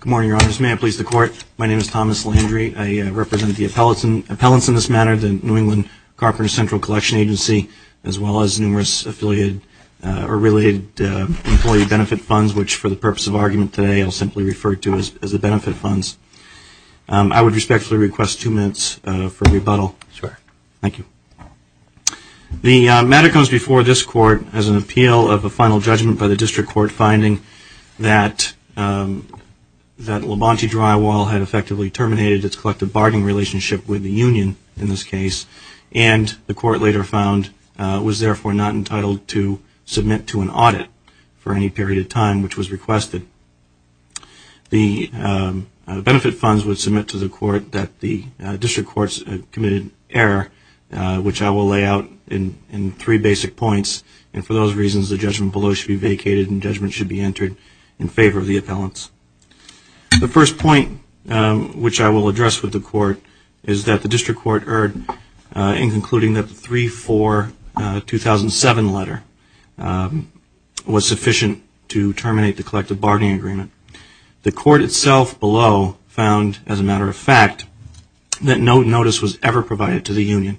Good morning, Your Honors. May I please the Court? My name is Thomas Landry. I represent the appellants in this matter, the New England Carpenters Central Collection Agency, as well as numerous affiliated or related employee benefit funds, which for the purpose of argument today I'll simply refer to as the benefit funds. I would respectfully request two minutes for rebuttal. Sure. Thank you. The matter comes before this Court as an appeal of a final judgment by the District Court finding that Labonte Drywall had effectively terminated its collective bargaining relationship with the union in this case, and the Court later found was therefore not entitled to submit to an audit for any period of time which was requested. The benefit funds would submit to the Court that the District Courts had committed error, which I will lay out in three basic points, and for those reasons the judgment below should be vacated and judgment should be entered in favor of the appellants. The first point which I will address with the Court is that the District Court erred in concluding that the 3-4-2007 letter was a matter of fact, that no notice was ever provided to the union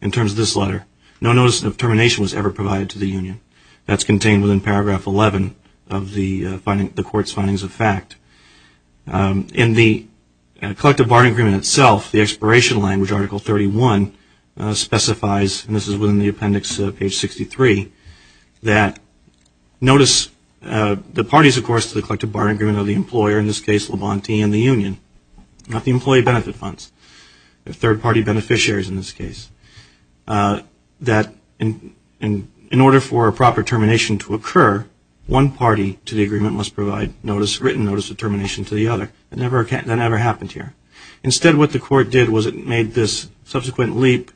in terms of this letter. No notice of termination was ever provided to the union. That's contained within paragraph 11 of the Court's findings of fact. In the collective bargaining agreement itself, the expiration language, Article 31, specifies, and this is within the appendix page 63, that notice the parties of course to the collective bargaining agreement are the employer, in the union, not the employee benefit funds, the third party beneficiaries in this case. In order for a proper termination to occur, one party to the agreement must provide written notice of termination to the other. That never happened here. Instead what the Court did was it made this subsequent leap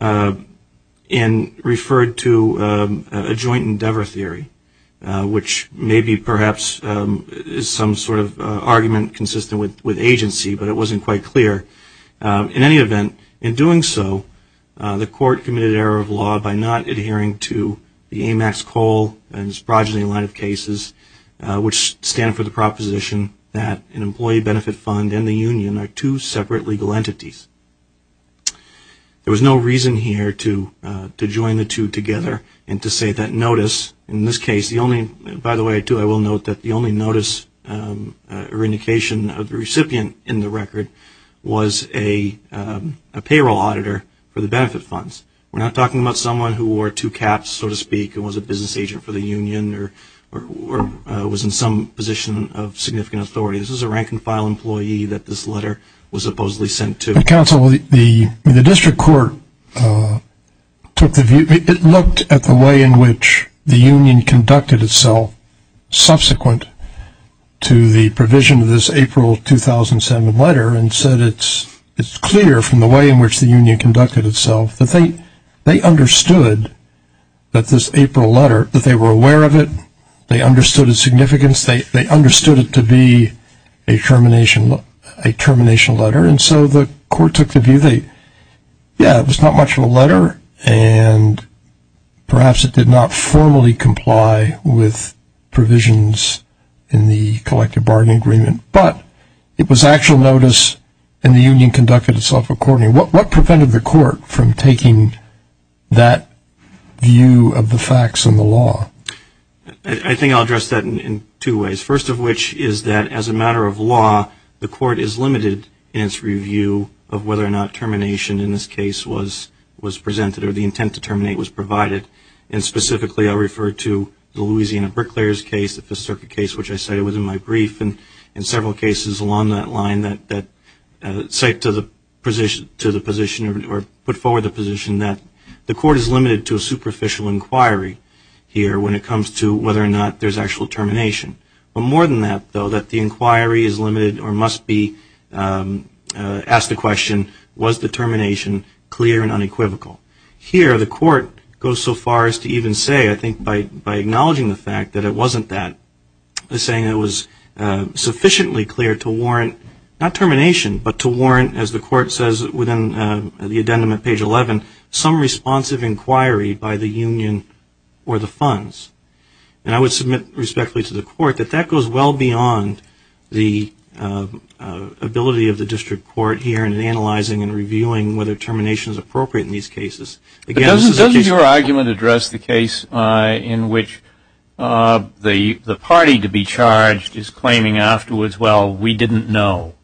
and referred to a joint endeavor theory, which may be perhaps some sort of argument consistent with agency, but it wasn't quite clear. In any event, in doing so, the Court committed error of law by not adhering to the AMAX-Cole and Sprogeny line of cases, which stand for the proposition that an employee benefit fund and the union are two separate legal entities. There was no reason here to join the two together and to say that notice, in this case, the only, by the way, too, I will note that the only notice or indication of the recipient in the record was a payroll auditor for the benefit funds. We're not talking about someone who wore two caps, so to speak, and was a business agent for the union or was in some position of significant authority. This was a rank and file employee that this letter was supposedly sent to. The District Court took the view, it looked at the way in which the union conducted itself subsequent to the provision of this April 2007 letter and said it's clear from the way in which the union conducted itself that they understood that this April letter, that they were aware of it, they understood its significance, they understood it to be a termination letter, and so the court took the view that, yeah, it was not much of a letter and perhaps it did not formally comply with provisions in the collective bargaining agreement, but it was actual notice and the union conducted itself accordingly. What prevented the court from taking that view of the facts and the law? I think I'll address that in two ways. First of which is that as a matter of law, the court is limited in its review of whether or not termination in this case was presented or the intent to terminate was provided, and specifically I'll refer to the Louisiana Bricklayer's case, the Fifth Circuit case, which I cited within my brief, and several cases along that line that cite to the position or put forward the position that the court is limited to a superficial inquiry here when it comes to whether or not there's actual termination. But more than that, though, that the inquiry is limited or must be asked the question, was the termination clear and unequivocal? Here, the court goes so far as to even say, I think by acknowledging the fact that it wasn't that, saying it was sufficiently clear to warrant, not termination, but to warrant, as the court says within the addendum at page 11, some responsive inquiry by the union or the funds. And I would submit respectfully to the court that that goes well beyond the ability of the district court here in analyzing and reviewing whether termination is appropriate in these cases. But doesn't your argument address the case in which the party to be charged is claiming afterwards, well, we didn't know,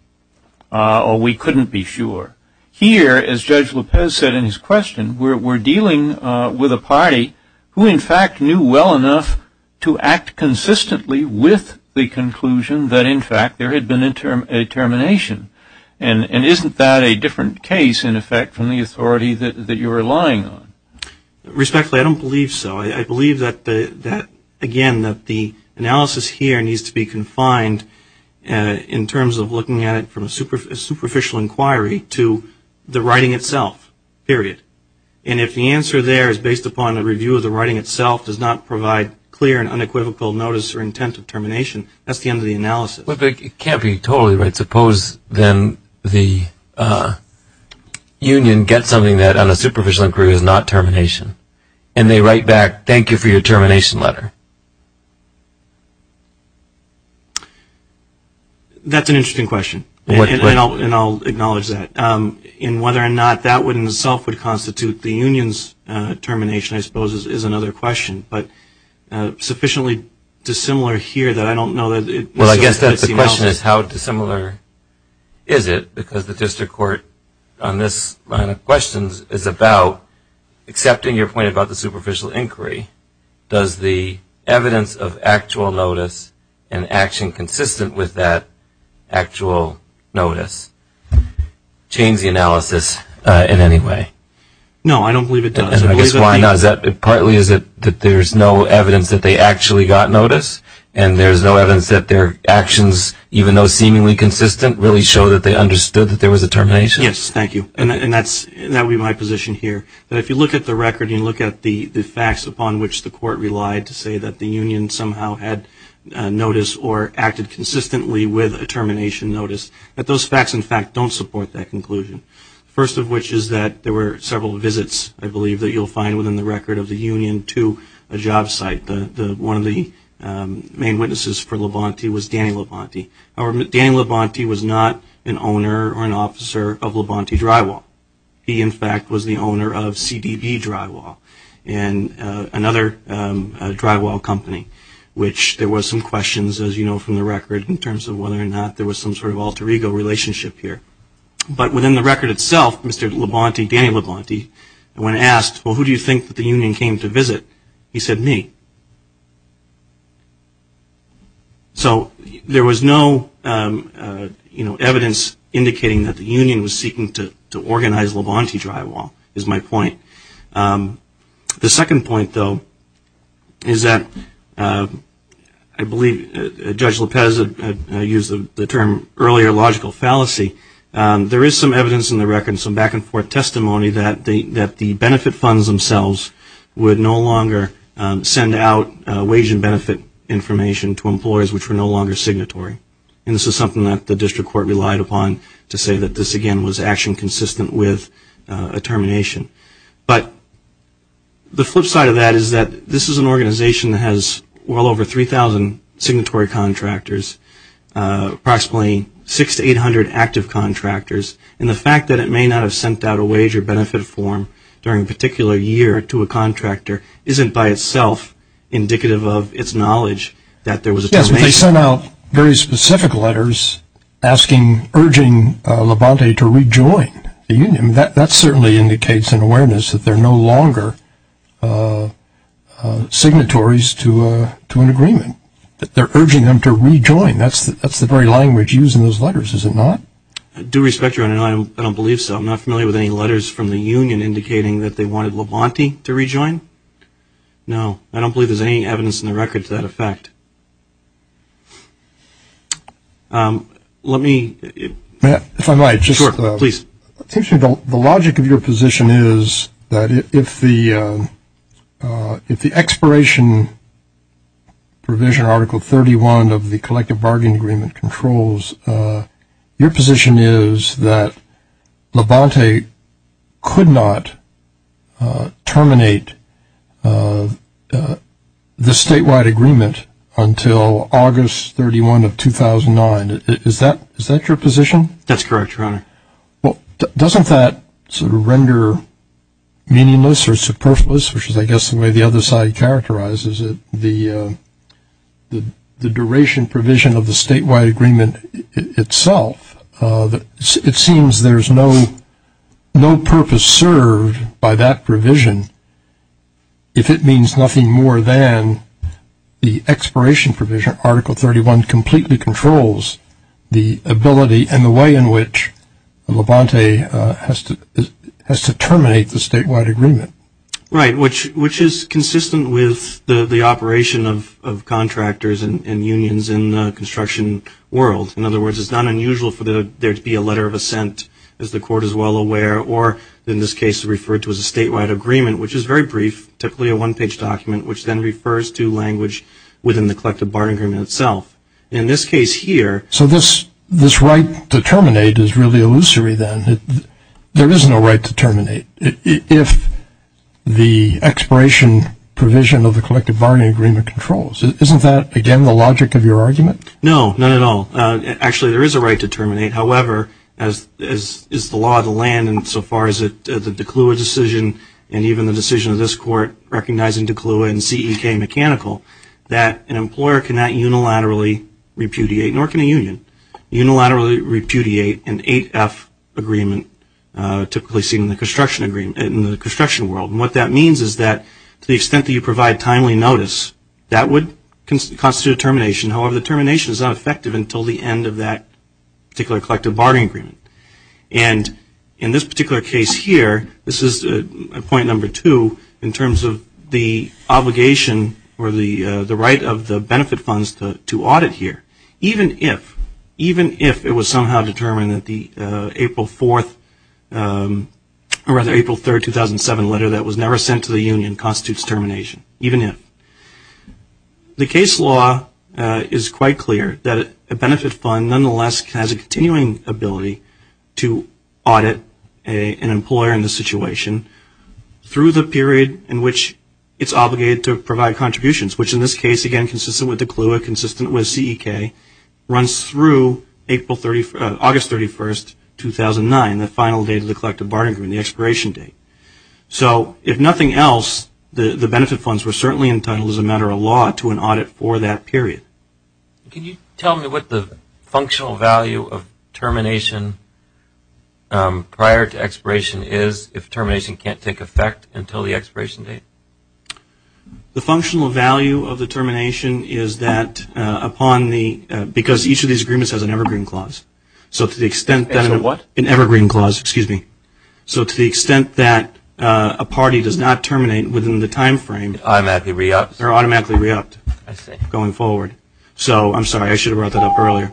or we couldn't be sure? Here, as Judge Lopez said in his question, we're dealing with a party who, in fact, knew well enough to act consistently with the conclusion that, in fact, there had been a termination. And isn't that a different case, in effect, from the authority that you're relying on? Respectfully, I don't believe so. I believe that, again, that the analysis here needs to be confined in terms of looking at it from a superficial inquiry to the writing itself, period. And if the answer there is based upon a review of the writing itself does not provide clear and unequivocal notice or intent of termination, that's the end of the analysis. But it can't be totally right. Suppose, then, the union gets something that, on a superficial inquiry, is not termination. And they write back, thank you for your termination letter. That's an interesting question. And I'll acknowledge that. And whether or not that would, in itself, would constitute the union's termination, I suppose, is another question. But sufficiently dissimilar here that I don't know that it's enough. Well, I guess that the question is, how dissimilar is it? Because the district court, on this line of questions, is about accepting your point about the superficial inquiry. Does the evidence of actual notice and action consistent with that actual notice change the analysis in any way? No, I don't believe it does. And I guess, why not? Is that partly is it that there's no evidence that they actually got notice? And there's no evidence that their actions, even though seemingly consistent, really show that they understood that there was a termination? Yes, thank you. And that would be my position here. That if you look at the record and you look at the facts upon which the court relied to say that the union somehow had notice or acted consistently with a termination notice, that those facts, in fact, don't support that conclusion. First of which is that there were several visits, I believe, that you'll find within the record of the union to a job site. One of the main witnesses for Labonte was Danny Labonte. However, Danny Labonte was not an owner or an officer of Labonte Drywall. He, in fact, was the owner of CDB Drywall, another drywall company, which there were some questions, as you know from the record, in terms of whether or not there was some sort of alter ego relationship here. But within the record itself, Mr. Labonte, Danny Labonte, when asked, well, who do you think that the union came to visit? He said, me. So there was no evidence indicating that the union was seeking to organize Labonte Drywall is my point. The second point, though, is that I believe Judge Lopez used the term earlier logical fallacy. There is some evidence in the record and some back and forth testimony that the benefit funds themselves would no longer send out wage and benefit information to employers which were no longer signatory. And this is something that the district court relied upon to say that this, again, was action consistent with a termination. But the flip side of that is that this is an organization that has well over 3,000 signatory contractors, approximately 600 to 800 active contractors. And the fact that it may not have sent out a wage or benefit form during a particular year to a contractor isn't by itself indicative of its knowledge that there was a termination. Yes, they sent out very specific letters urging Labonte to rejoin the union. That certainly indicates an awareness that they're no longer signatories to an agreement. They're urging them to rejoin. That's the very language used in those letters, is it not? I do respect your honor, and I don't believe so. I'm not familiar with any letters from the union indicating that they wanted Labonte to rejoin. No, I don't believe there's any evidence in the record to that effect. Let me... If I might, it seems to me the logic of your position is that if the expiration provision in Article 31 of the Collective Bargain Agreement controls, your position is that Labonte could not terminate the statewide agreement until August 31 of 2009. Is that your position? That's correct, your honor. Doesn't that sort of render meaningless or superfluous, which is I guess the way the other side characterizes it, the duration provision of the statewide agreement itself? It seems there's no purpose served by that provision if it means nothing more than the expiration provision, Article 31, completely controls the ability and the way in which Labonte has to terminate the statewide agreement. Right, which is consistent with the operation of contractors and unions in the construction world. In other words, it's not unusual for there to be a letter of assent, as the Court is well aware, or in this case referred to as a statewide agreement, which is very brief, typically a one-page document, which then refers to language within the Collective Bargain Agreement itself. In this case here... So this right to terminate is really illusory then. There is no right to terminate. If Labonte the expiration provision of the Collective Bargain Agreement controls. Isn't that, again, the logic of your argument? No, not at all. Actually, there is a right to terminate. However, as is the law of the land and so far as the DeClua decision and even the decision of this Court recognizing DeClua and CEK mechanical, that an employer cannot unilaterally repudiate, nor can a union unilaterally repudiate an 8F agreement, typically seen in the construction world. What that means is that to the extent that you provide timely notice, that would constitute a termination. However, the termination is not effective until the end of that particular Collective Bargain Agreement. And in this particular case here, this is point number two in terms of the obligation or the right of the benefit funds to audit here. Even if it was somehow determined that the April 4th, or rather April 3rd, 2007 letter that was never sent to the union constitutes termination. Even if. The case law is quite clear that a benefit fund nonetheless has a continuing ability to audit an employer in this situation through the period in which it is obligated to provide contributions, which in this case again consistent with DeClua, consistent with CEK, runs through August 31st, 2009, the final date of the Collective Bargain Agreement, the expiration date. So, if nothing else, the benefit funds were certainly entitled as a matter of law to an audit for that period. Can you tell me what the functional value of termination prior to expiration is if termination can't take effect until the expiration date? The functional value of the termination is that upon the, because each of these agreements has an evergreen clause. So, to the extent that, an evergreen clause, excuse me. So, to the extent that a party does not terminate within the time frame, they're automatically re-upped going forward. So, I'm sorry, I should have brought that up earlier.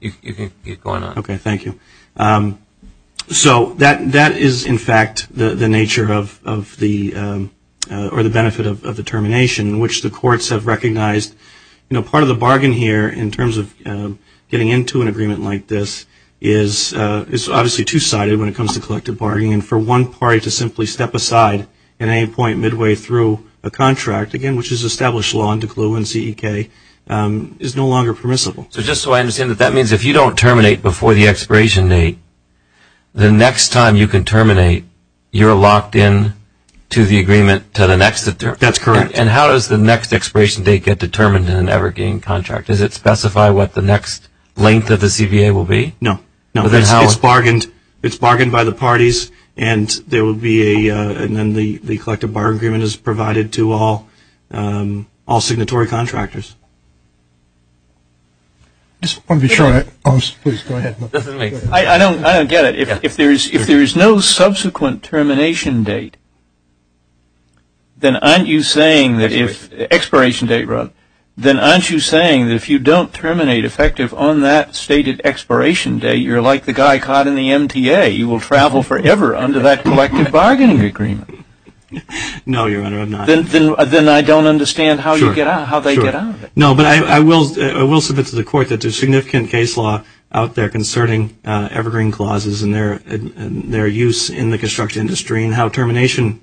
You can keep going on. Okay, thank you. So, that is in fact the nature of the, or the benefit of the termination in which the courts have recognized, you know, part of the bargain here in terms of getting into an agreement like this is obviously two-sided when it comes to collective bargaining. For one party to simply step aside at any point midway through a contract, again which is So, just so I understand, that means if you don't terminate before the expiration date, the next time you can terminate, you're locked in to the agreement to the next. That's correct. And how does the next expiration date get determined in an evergreen contract? Does it specify what the next length of the CBA will be? No. No, it's bargained. It's bargained by the parties and there will be a, and then the I don't get it. If there's no subsequent termination date, then aren't you saying that if, expiration date, Rob, then aren't you saying that if you don't terminate effective on that stated expiration date, you're like the guy caught in the MTA. You will travel forever under that collective bargaining agreement. No, Your Honor, I'm not. Then I don't understand how you get out, how they get out of it. No, but I will submit to the court that there's significant case law out there concerning evergreen clauses and their use in the construction industry and how termination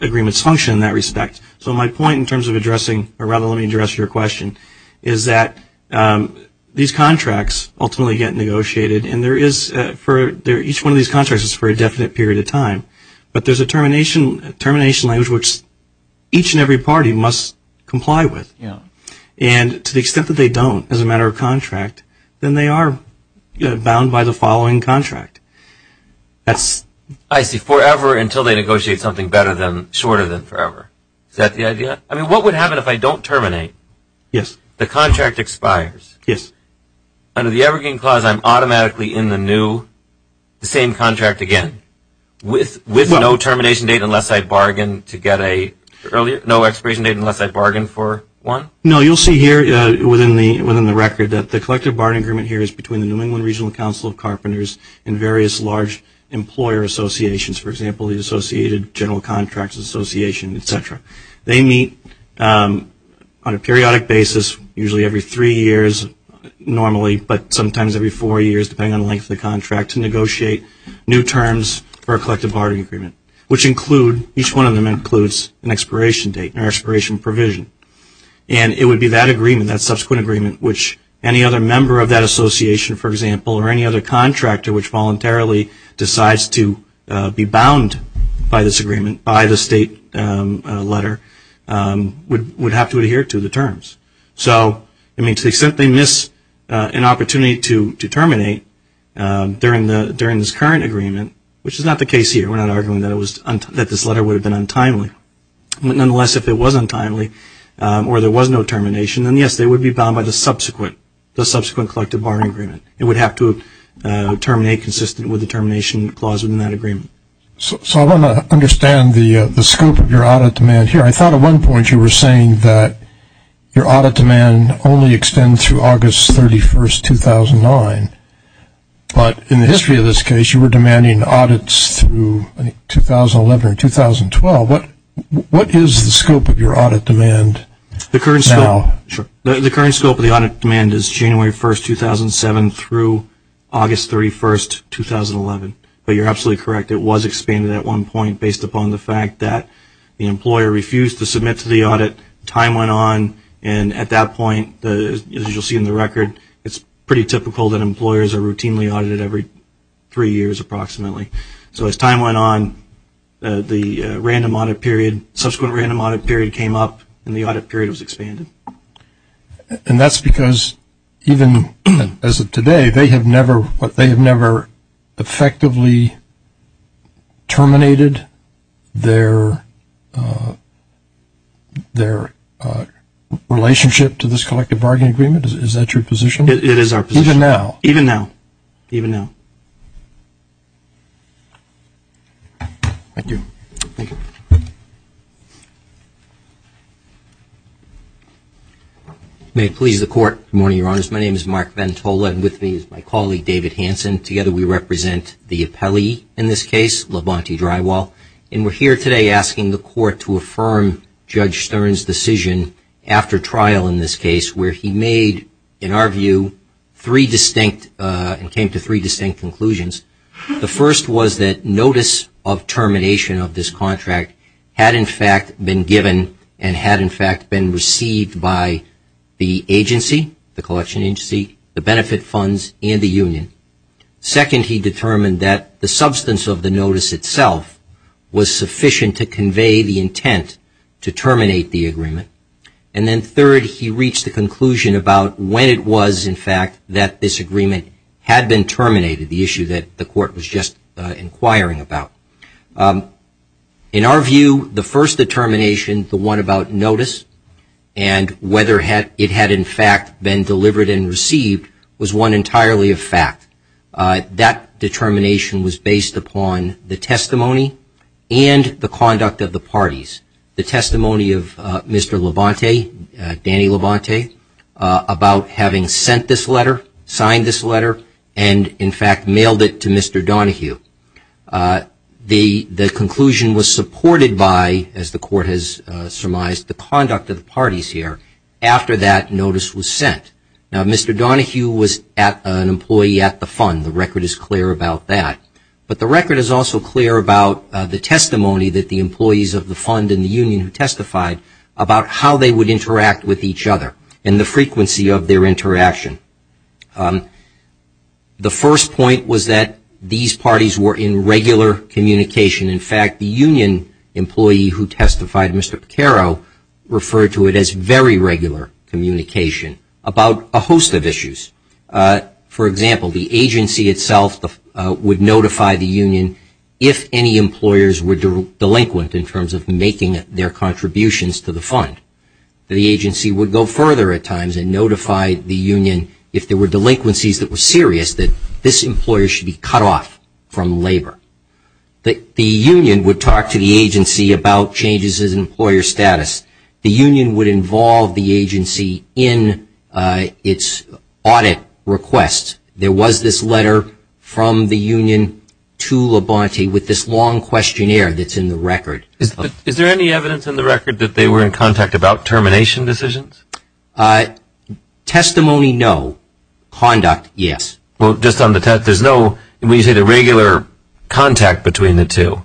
agreements function in that respect. So my point in terms of addressing, or rather let me address your question, is that these contracts ultimately get negotiated and there is, each one of these contracts is for a definite period of time, but there's a termination language which each and every And to the extent that they don't as a matter of contract, then they are bound by the following contract. I see, forever until they negotiate something better than, shorter than forever. Is that the idea? I mean, what would happen if I don't terminate? Yes. The contract expires. Yes. Under the evergreen clause, I'm automatically in the new, the same contract again, with no termination date unless I bargained to get a, no expiration date unless I bargained for one? No, you'll see here within the record that the collective bargaining agreement here is between the New England Regional Council of Carpenters and various large employer associations. For example, the Associated General Contracts Association, etc. They meet on a periodic basis, usually every three years normally, but sometimes every four years depending on the length of the contract to negotiate new terms for a collective bargaining agreement, which include, each one of them includes an expiration date or expiration provision. And it would be that agreement, that subsequent agreement, which any other member of that association, for example, or any other contractor which voluntarily decides to be bound by this agreement, by the state letter, would have to adhere to the terms. So, I mean, to the extent they miss an opportunity to terminate during this current agreement, which is not the case here. We're not arguing that this letter would have been untimely. Nonetheless, if it was untimely or there was no termination, then yes, they would be bound by the subsequent, the subsequent collective bargaining agreement. It would have to terminate consistent with the termination clause within that agreement. So, I want to understand the scope of your audit demand here. I thought at one point you were saying that your audit demand only extends through August 31, 2009. But in the history of this case, you were demanding audits through 2011 or 2012. What is the scope of your audit demand now? The current scope of the audit demand is January 1, 2007 through August 31, 2011. But you're absolutely correct. It was expanded at one point based upon the fact that the employer refused to submit to the audit. Time went on. And at that point, as you'll see in the record, it's pretty typical that employers are expanding their orders approximately. So, as time went on, the random audit period, subsequent random audit period came up and the audit period was expanded. And that's because even as of today, they have never effectively terminated their relationship to this collective bargaining agreement? Is that your position? It is our position. Even now? Even now. Even now. Thank you. May it please the Court. Good morning, Your Honors. My name is Mark Ventola and with me is my colleague David Hanson. Together we represent the appellee in this case, Labonte Drywall. And we're here today asking the Court to affirm Judge Stern's decision after trial in this case where he made, in our view, three distinct and came to three distinct conclusions. The first was that notice of termination of this contract had, in fact, been given and had, in fact, been received by the agency, the collection agency, the benefit funds, and the union. Second, he determined that the substance of the notice itself was sufficient to convey the intent to terminate the agreement. And then third, he reached the conclusion about when it was, in fact, that this agreement had been terminated, the issue that the Court was just inquiring about. In our view, the first determination, the one about notice and whether it had, in fact, been delivered and received was one entirely of fact. That determination was based upon the testimony and the conduct of the parties. The testimony of Mr. Labonte, Danny Labonte, about having sent this letter, signed this letter, and, in fact, mailed it to Mr. Donohue. The conclusion was supported by, as the Court has surmised, the conduct of the parties here after that notice was sent. Now, Mr. Donohue was an example of the testimony that the employees of the fund and the union who testified about how they would interact with each other and the frequency of their interaction. The first point was that these parties were in regular communication. In fact, the union employee who testified, Mr. Pacaro, referred to it as very regular communication about a host of issues. For example, the agency itself would notify the union if any employers were delinquent in terms of making their contributions to the fund. The agency would go further at times and notify the union if there were delinquencies that were serious that this employer should be cut off from labor. The union would talk to the agency about changes in employer status. The union would involve the agency in its audit request. There was this letter from the union to Labonte with this long questionnaire that's in the record. Is there any evidence in the record that they were in contact about termination decisions? Testimony, no. Conduct, yes. Well, just on the test, there's no, when you say the regular contact between the two,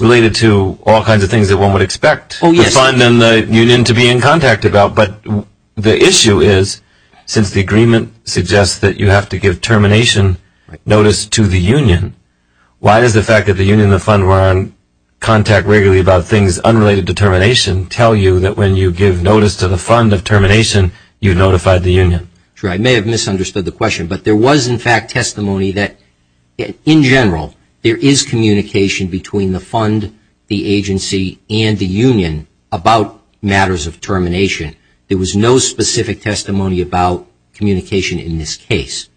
related to all kinds of things that one would expect the fund and the union to be in contact about. But the issue is, since the agreement suggests that you have to give termination notice to the union, why does the fact that the union and the fund were on contact regularly about things unrelated to termination tell you that when you give notice to the fund of termination, you notified the union? Sure, I may have misunderstood the question, but there was, in fact, testimony that, in general, there is communication between the fund, the agency, and the union about matters of termination. There was no specific testimony about communication in this case.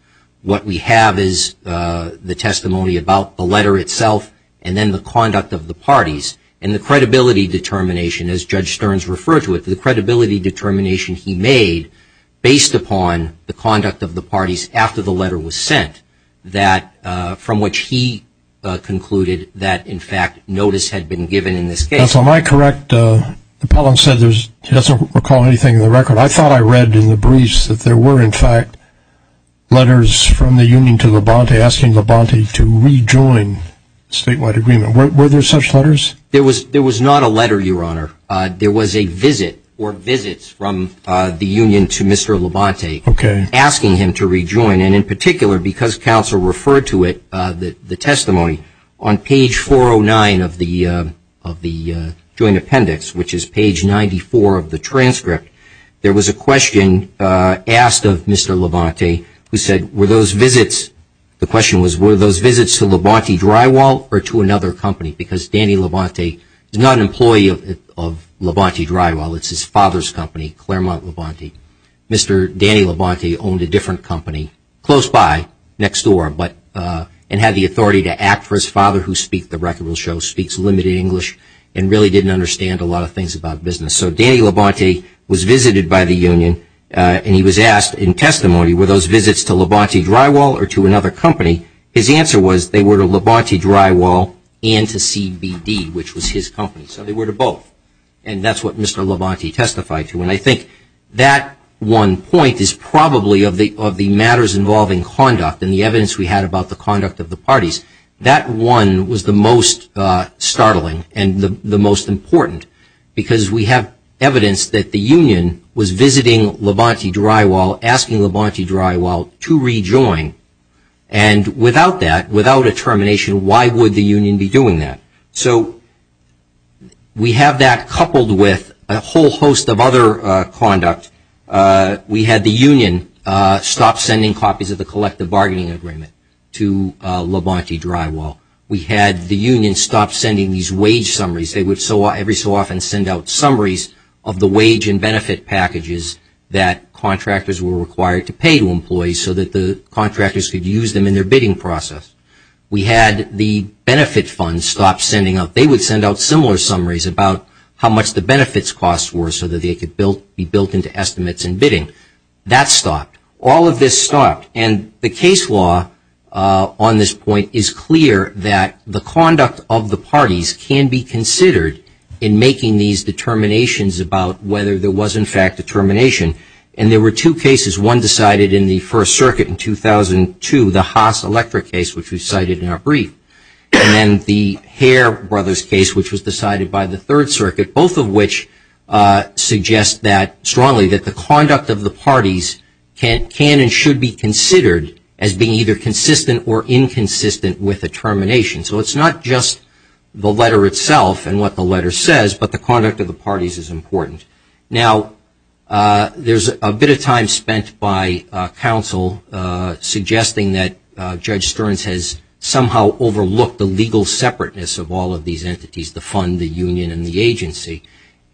What we have is the testimony about the letter itself and then the conduct of the parties, and the credibility determination, as Judge Stearns referred to it, the credibility determination he made based upon the conduct of the parties after the letter was sent, that, from which he concluded that, in fact, notice had been given in this case. Counsel, am I correct? Pellin said he doesn't recall anything in the record. I thought I read in the briefs that there were, in fact, letters from the union to Labonte asking Labonte to rejoin the statewide agreement. Were there such letters? There was not a letter, Your Honor. There was a visit or visits from the union to Mr. Labonte asking him to rejoin. And, in particular, because counsel referred to it, the testimony, on page 409 of the joint appendix, which is page 94 of the transcript, there was a question asked of Mr. Labonte who said, were those visits, the question was, were those visits to Labonte Drywall or to another company? Because Danny Labonte is not an employee of Labonte Drywall. It's his father's company, Claremont Labonte. Mr. Danny Labonte owned a different company close by, next door, and had the authority to act for his father who speaks the record will show, speaks limited English, and really didn't understand a lot of things about business. So Danny Labonte was visited by the union to Labonte Drywall and to CBD, which was his company. So they were to both. And that's what Mr. Labonte testified to. And I think that one point is probably of the matters involving conduct and the evidence we had about the conduct of the parties. That one was the most startling and the most important because we have evidence that the union was visiting Labonte Drywall, asking Labonte Drywall to be doing that. So we have that coupled with a whole host of other conduct. We had the union stop sending copies of the collective bargaining agreement to Labonte Drywall. We had the union stop sending these wage summaries. They would every so often send out summaries of the wage and benefit packages that contractors were required to pay to employees so that the contractors could use them in their bidding process. We had the benefit funds stop sending out. They would send out similar summaries about how much the benefits costs were so that they could be built into estimates and bidding. That stopped. All of this stopped. And the case law on this point is clear that the conduct of the parties can be considered in making these determinations about whether there was in fact a termination. And there were two cases. One decided in the First Circuit and the Hare Brothers case, which was decided by the Third Circuit, both of which suggest strongly that the conduct of the parties can and should be considered as being either consistent or inconsistent with a termination. So it's not just the letter itself and what the letter says, but the legal separateness of all of these entities, the fund, the union, and the agency.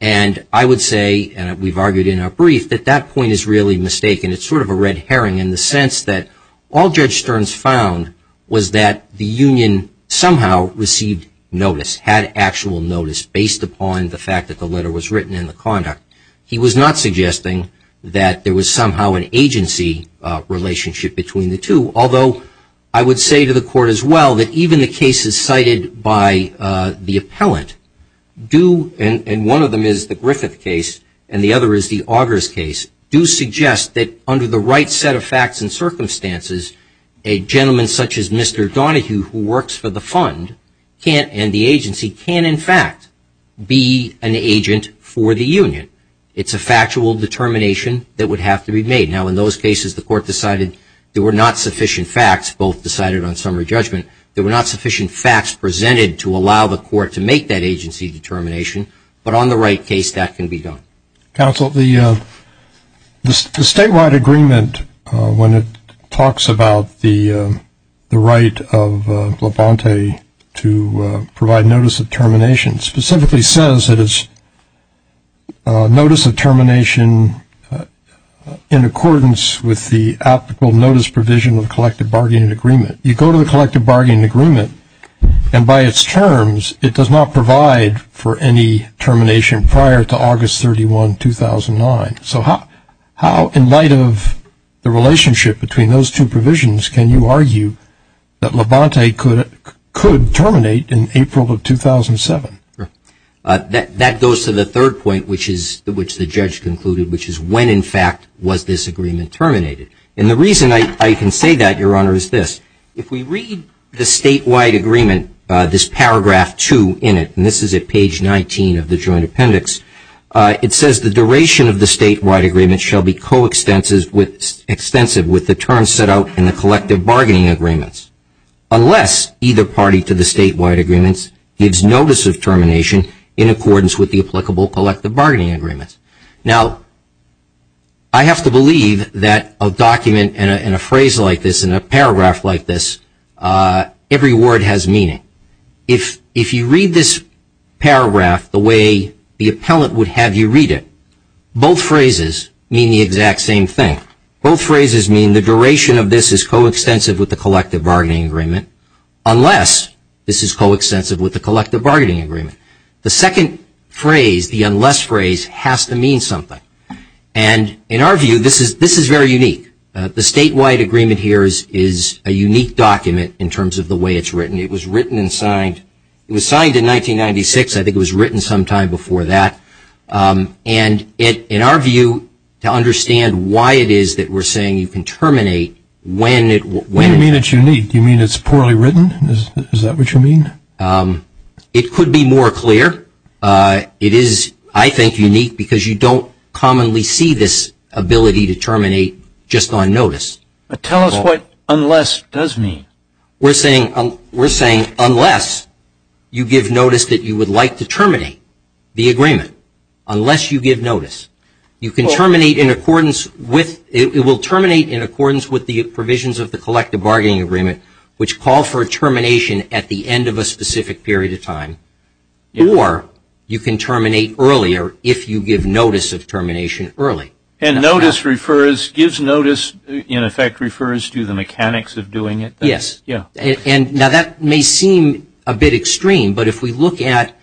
And I would say, and we've argued in our brief, that that point is really mistaken. It's sort of a red herring in the sense that all Judge Stearns found was that the union somehow received notice, had actual notice, based upon the fact that the letter was written and the conduct. He was not suggesting that there was somehow an agency relationship between the two. Although I would say to the Court as well that even the cases cited by the appellant do, and one of them is the Griffith case and the other is the Augers case, do suggest that under the right set of facts and circumstances, a gentleman such as Mr. Donohue who works for the fund can't, and the agency can, in fact, be an agent for the union. It's a factual determination that would have to be made. Now in those cases the Court decided there were not sufficient facts, both decided on summary judgment, there were not sufficient facts presented to allow the Court to make that agency determination, but on the right case that can be done. Counsel, the statewide agreement, when it talks about the right of Labonte to provide notice of termination, specifically says that it's notice of termination in accordance with the applicable notice provision of the collective bargaining agreement. You go to the collective bargaining agreement and by its terms it does not provide for any termination prior to August 31, 2009. So how, in light of the relationship between those two provisions, can you argue that Labonte could terminate in April of 2007? That goes to the third point, which the judge concluded, which is when, in fact, was this agreement terminated. And the reason I can say that, Your Honor, is this. If we read the statewide agreement, this paragraph 2 in it, and this is at page 19 of the joint appendix, it says the duration of the statewide agreement shall be coextensive with the terms set out in the collective in accordance with the applicable collective bargaining agreement. Now, I have to believe that a document and a phrase like this and a paragraph like this, every word has meaning. If you read this paragraph the way the appellant would have you read it, both phrases mean the exact same thing. Both phrases mean the duration of this is coextensive with the collective bargaining agreement unless this is coextensive with the collective bargaining agreement. The second phrase, the unless phrase, has to mean something. And in our view, this is very unique. The statewide agreement here is a unique document in terms of the way it's written. It was written and signed. It was signed in 1996. I think it was written sometime before that. And in our view, to understand why it is that we're saying you can terminate when it was... You mean it's unique? You mean it's poorly written? Is that what you mean? It could be more clear. It is, I think, unique because you don't commonly see this ability to terminate just on notice. Tell us what unless does mean. We're saying unless you give notice that you would like to terminate the agreement. Unless you give notice. You can terminate in accordance with... It will terminate in accordance with the provisions of the collective bargaining agreement, which call for a termination at the end of a specific period of time. Or you can terminate earlier if you give notice of termination early. And notice refers... Gives notice, in effect, refers to the mechanics of doing it. Yes. And now that may seem a bit extreme, but if we look at...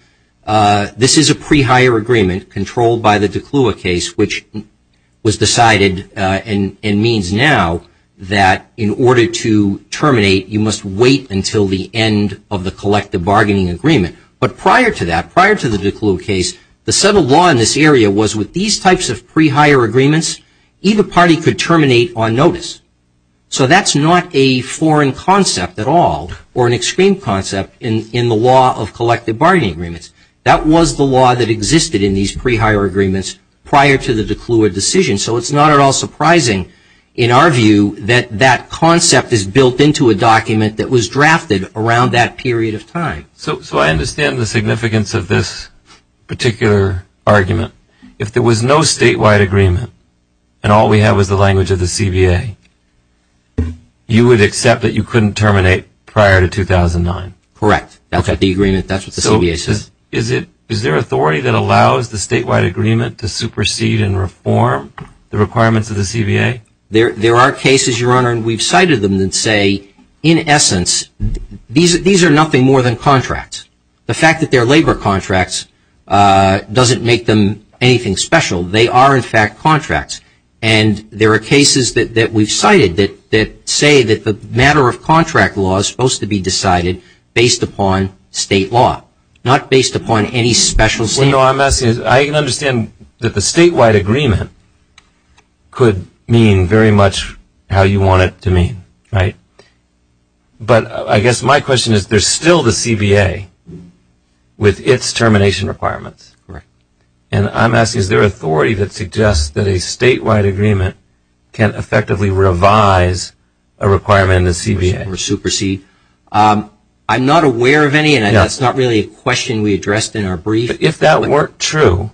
This is a pre-hire agreement controlled by the DeClua case, which was decided and means now that in order to terminate, you must wait until the end of the collective bargaining agreement. But prior to that, prior to the DeClua case, the settled law in this area was with these types of pre-hire agreements, either party could terminate on notice. So that's not a foreign concept at all or an extreme concept in the law of collective bargaining agreements. That was the law that existed in these pre-hire agreements prior to the DeClua decision. So it's not at all surprising in our view that that concept is built into a document that was drafted around that period of time. Okay. So I understand the significance of this particular argument. If there was no statewide agreement and all we have is the language of the CBA, you would accept that you couldn't terminate prior to 2009? Correct. That's what the agreement... That's what the CBA says. So is it... Is there authority that allows the statewide agreement to supersede and reform the requirements of the CBA? There are cases, Your Honor, and we've cited them that say, in essence, these are nothing more than contracts. The fact that they're labor contracts doesn't make them anything special. They are, in fact, contracts. And there are cases that we've cited that say that the matter of contract law is supposed to be decided based upon state law, not based upon any special... I can understand that the statewide agreement could mean very much how you want it to mean, right? But I guess my question is, there's still the CBA with its termination requirements. Correct. And I'm asking, is there authority that suggests that a statewide agreement can effectively revise a requirement in the CBA? Supersede. I'm not aware of any, and that's not really a question we addressed in our brief. If that weren't true,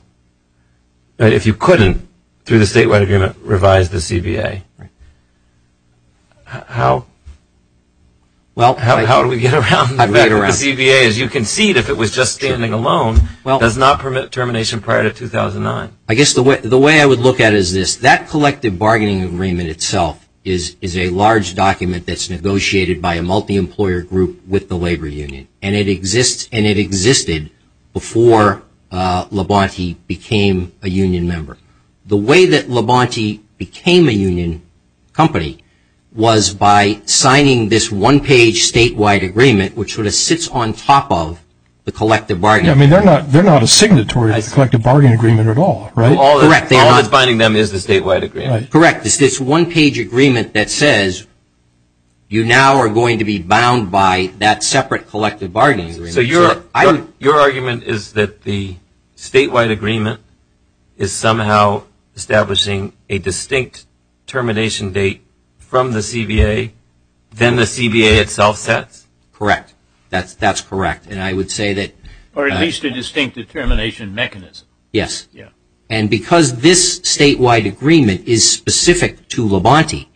if you couldn't, through the statewide agreement, revise the CBA, how do we get around the fact that the CBA, as you concede, if it was just standing alone, does not permit termination prior to 2009? I guess the way I would look at it is this. That collective bargaining agreement itself is a large document that's negotiated by a multi-employer group with the labor union. And it existed before Labonte became a union member. The way that Labonte became a union company was by signing this one-page statewide agreement, which sort of sits on top of the collective bargaining agreement. I mean, they're not a signatory of the collective bargaining agreement at all, right? Correct. All that's binding them is the statewide agreement. Correct. It's this one-page agreement that says you now are going to be bound by that separate collective bargaining agreement. So your argument is that the statewide agreement is somehow establishing a distinct termination date from the CBA, then the CBA itself sets? Correct. That's correct. And I would say that Or at least a distinct determination mechanism. Yes. Yeah. And because this statewide agreement is specific to Labonte,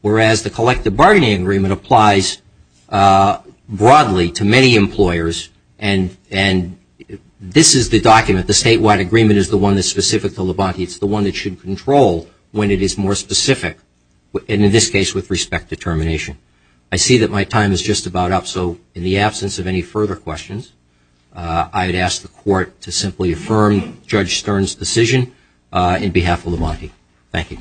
whereas the collective bargaining agreement applies broadly to many employers, and this is the document, the statewide agreement is the one that's specific to Labonte, it's the one that should control when it is more specific, and in this case with respect to termination. I see that my time is just about up, so in the absence of any further questions, I would ask the Court to simply affirm Judge Stern's decision in behalf of Labonte. Thank you.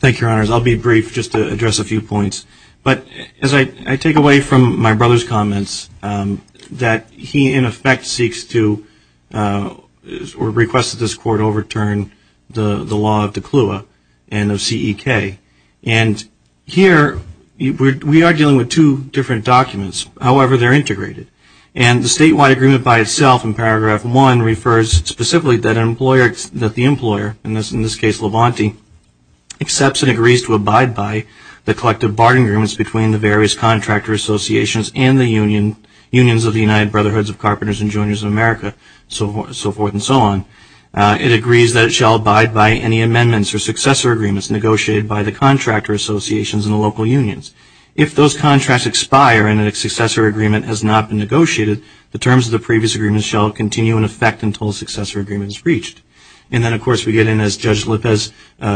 Thank you, Your Honors. I'll be brief just to address a few points. But as I take away from my brother's comments that he, in effect, seeks to or requests that this Court overturn the law of the CLUA and of CEK. And here we are dealing with two different documents, however they're integrated. And the statewide agreement by itself in paragraph one refers specifically that the employer, in this case Labonte, accepts and agrees to abide by the collective bargaining agreements between the various contractor associations and the unions of the United Brotherhoods of Carpenters and Joiners of America, so forth and so on. It agrees that it shall abide by any amendments or successor agreements negotiated by the contractor associations and the local unions. If those contracts expire and a successor agreement has not been negotiated, the terms of the previous agreement shall continue in effect until a successor agreement is reached. And then, of course, we get in, as Judge Lopez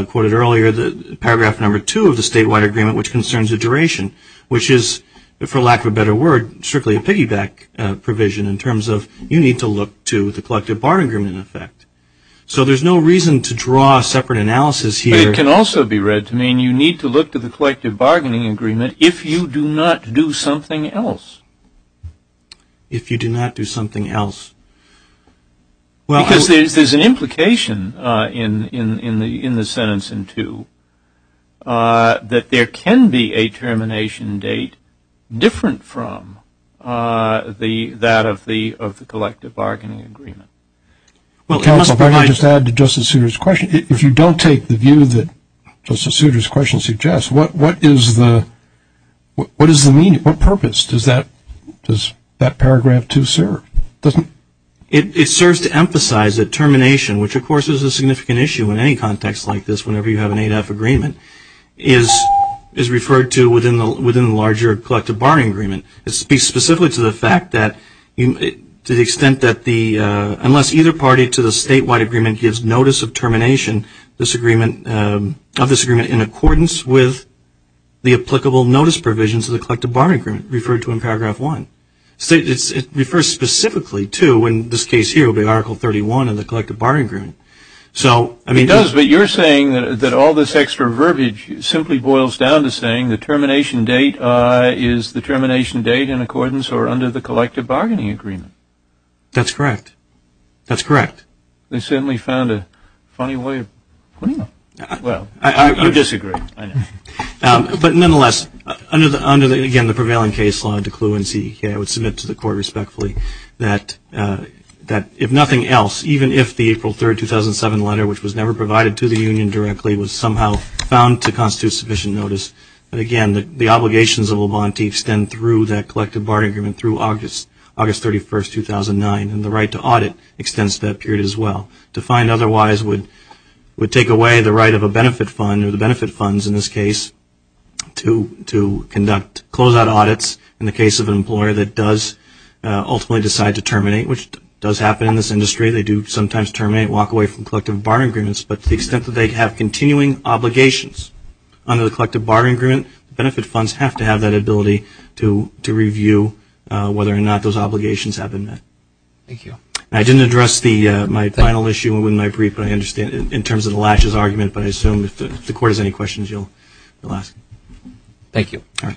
quoted earlier, paragraph number two of the statewide agreement which concerns the duration, which is, for lack of a better word, strictly a piggyback provision in terms of you need to look to the collective bargaining agreement in effect. So there's no reason to draw a separate analysis here. But it can also be read to mean you need to look to the collective bargaining agreement if you do not do something else. If you do not do something else. Because there's an implication in the sentence in two that there can be a termination date different from that of the collective bargaining agreement. Well, counsel, if I could just add to Justice Souter's question. If you don't take the view that Justice Souter's question suggests, what is the meaning, what purpose does that paragraph two serve? It serves to emphasize that termination, which of course is a significant issue in any context like this whenever you have an 8F agreement, is referred to within the larger collective bargaining agreement. It speaks specifically to the fact that to the extent that the, unless either party to the statewide agreement gives notice of termination of this agreement in accordance with the applicable notice provisions of the collective bargaining agreement referred to in paragraph one. It refers specifically to, in this case here, Article 31 of the collective bargaining agreement. It does, but you're saying that all this extra verbiage simply boils down to saying the termination date is the termination date in accordance or under the collective bargaining agreement. That's correct. That's correct. They certainly found a funny way of putting it. Well, you disagree. But nonetheless, under the, again, the prevailing case law, I would submit to the court respectfully that if nothing else, even if the April 3, 2007 letter, which was never provided to the union directly, was somehow found to constitute sufficient notice, again, the obligations of a volunteer extend through that collective bargaining agreement through August 31, 2009, and the right to audit extends to that period as well. Defined otherwise would take away the right of a benefit fund, or the benefit funds in this case, to conduct closeout audits in the case of an employer that does ultimately decide to terminate, which does happen in this industry. They do sometimes terminate and walk away from collective bargaining agreements. But to the extent that they have continuing obligations under the collective bargaining agreement, benefit funds have to have that ability to review whether or not those obligations have been met. Thank you. I didn't address my final issue in my brief in terms of the latches argument, but I assume if the court has any questions, you'll ask. All right.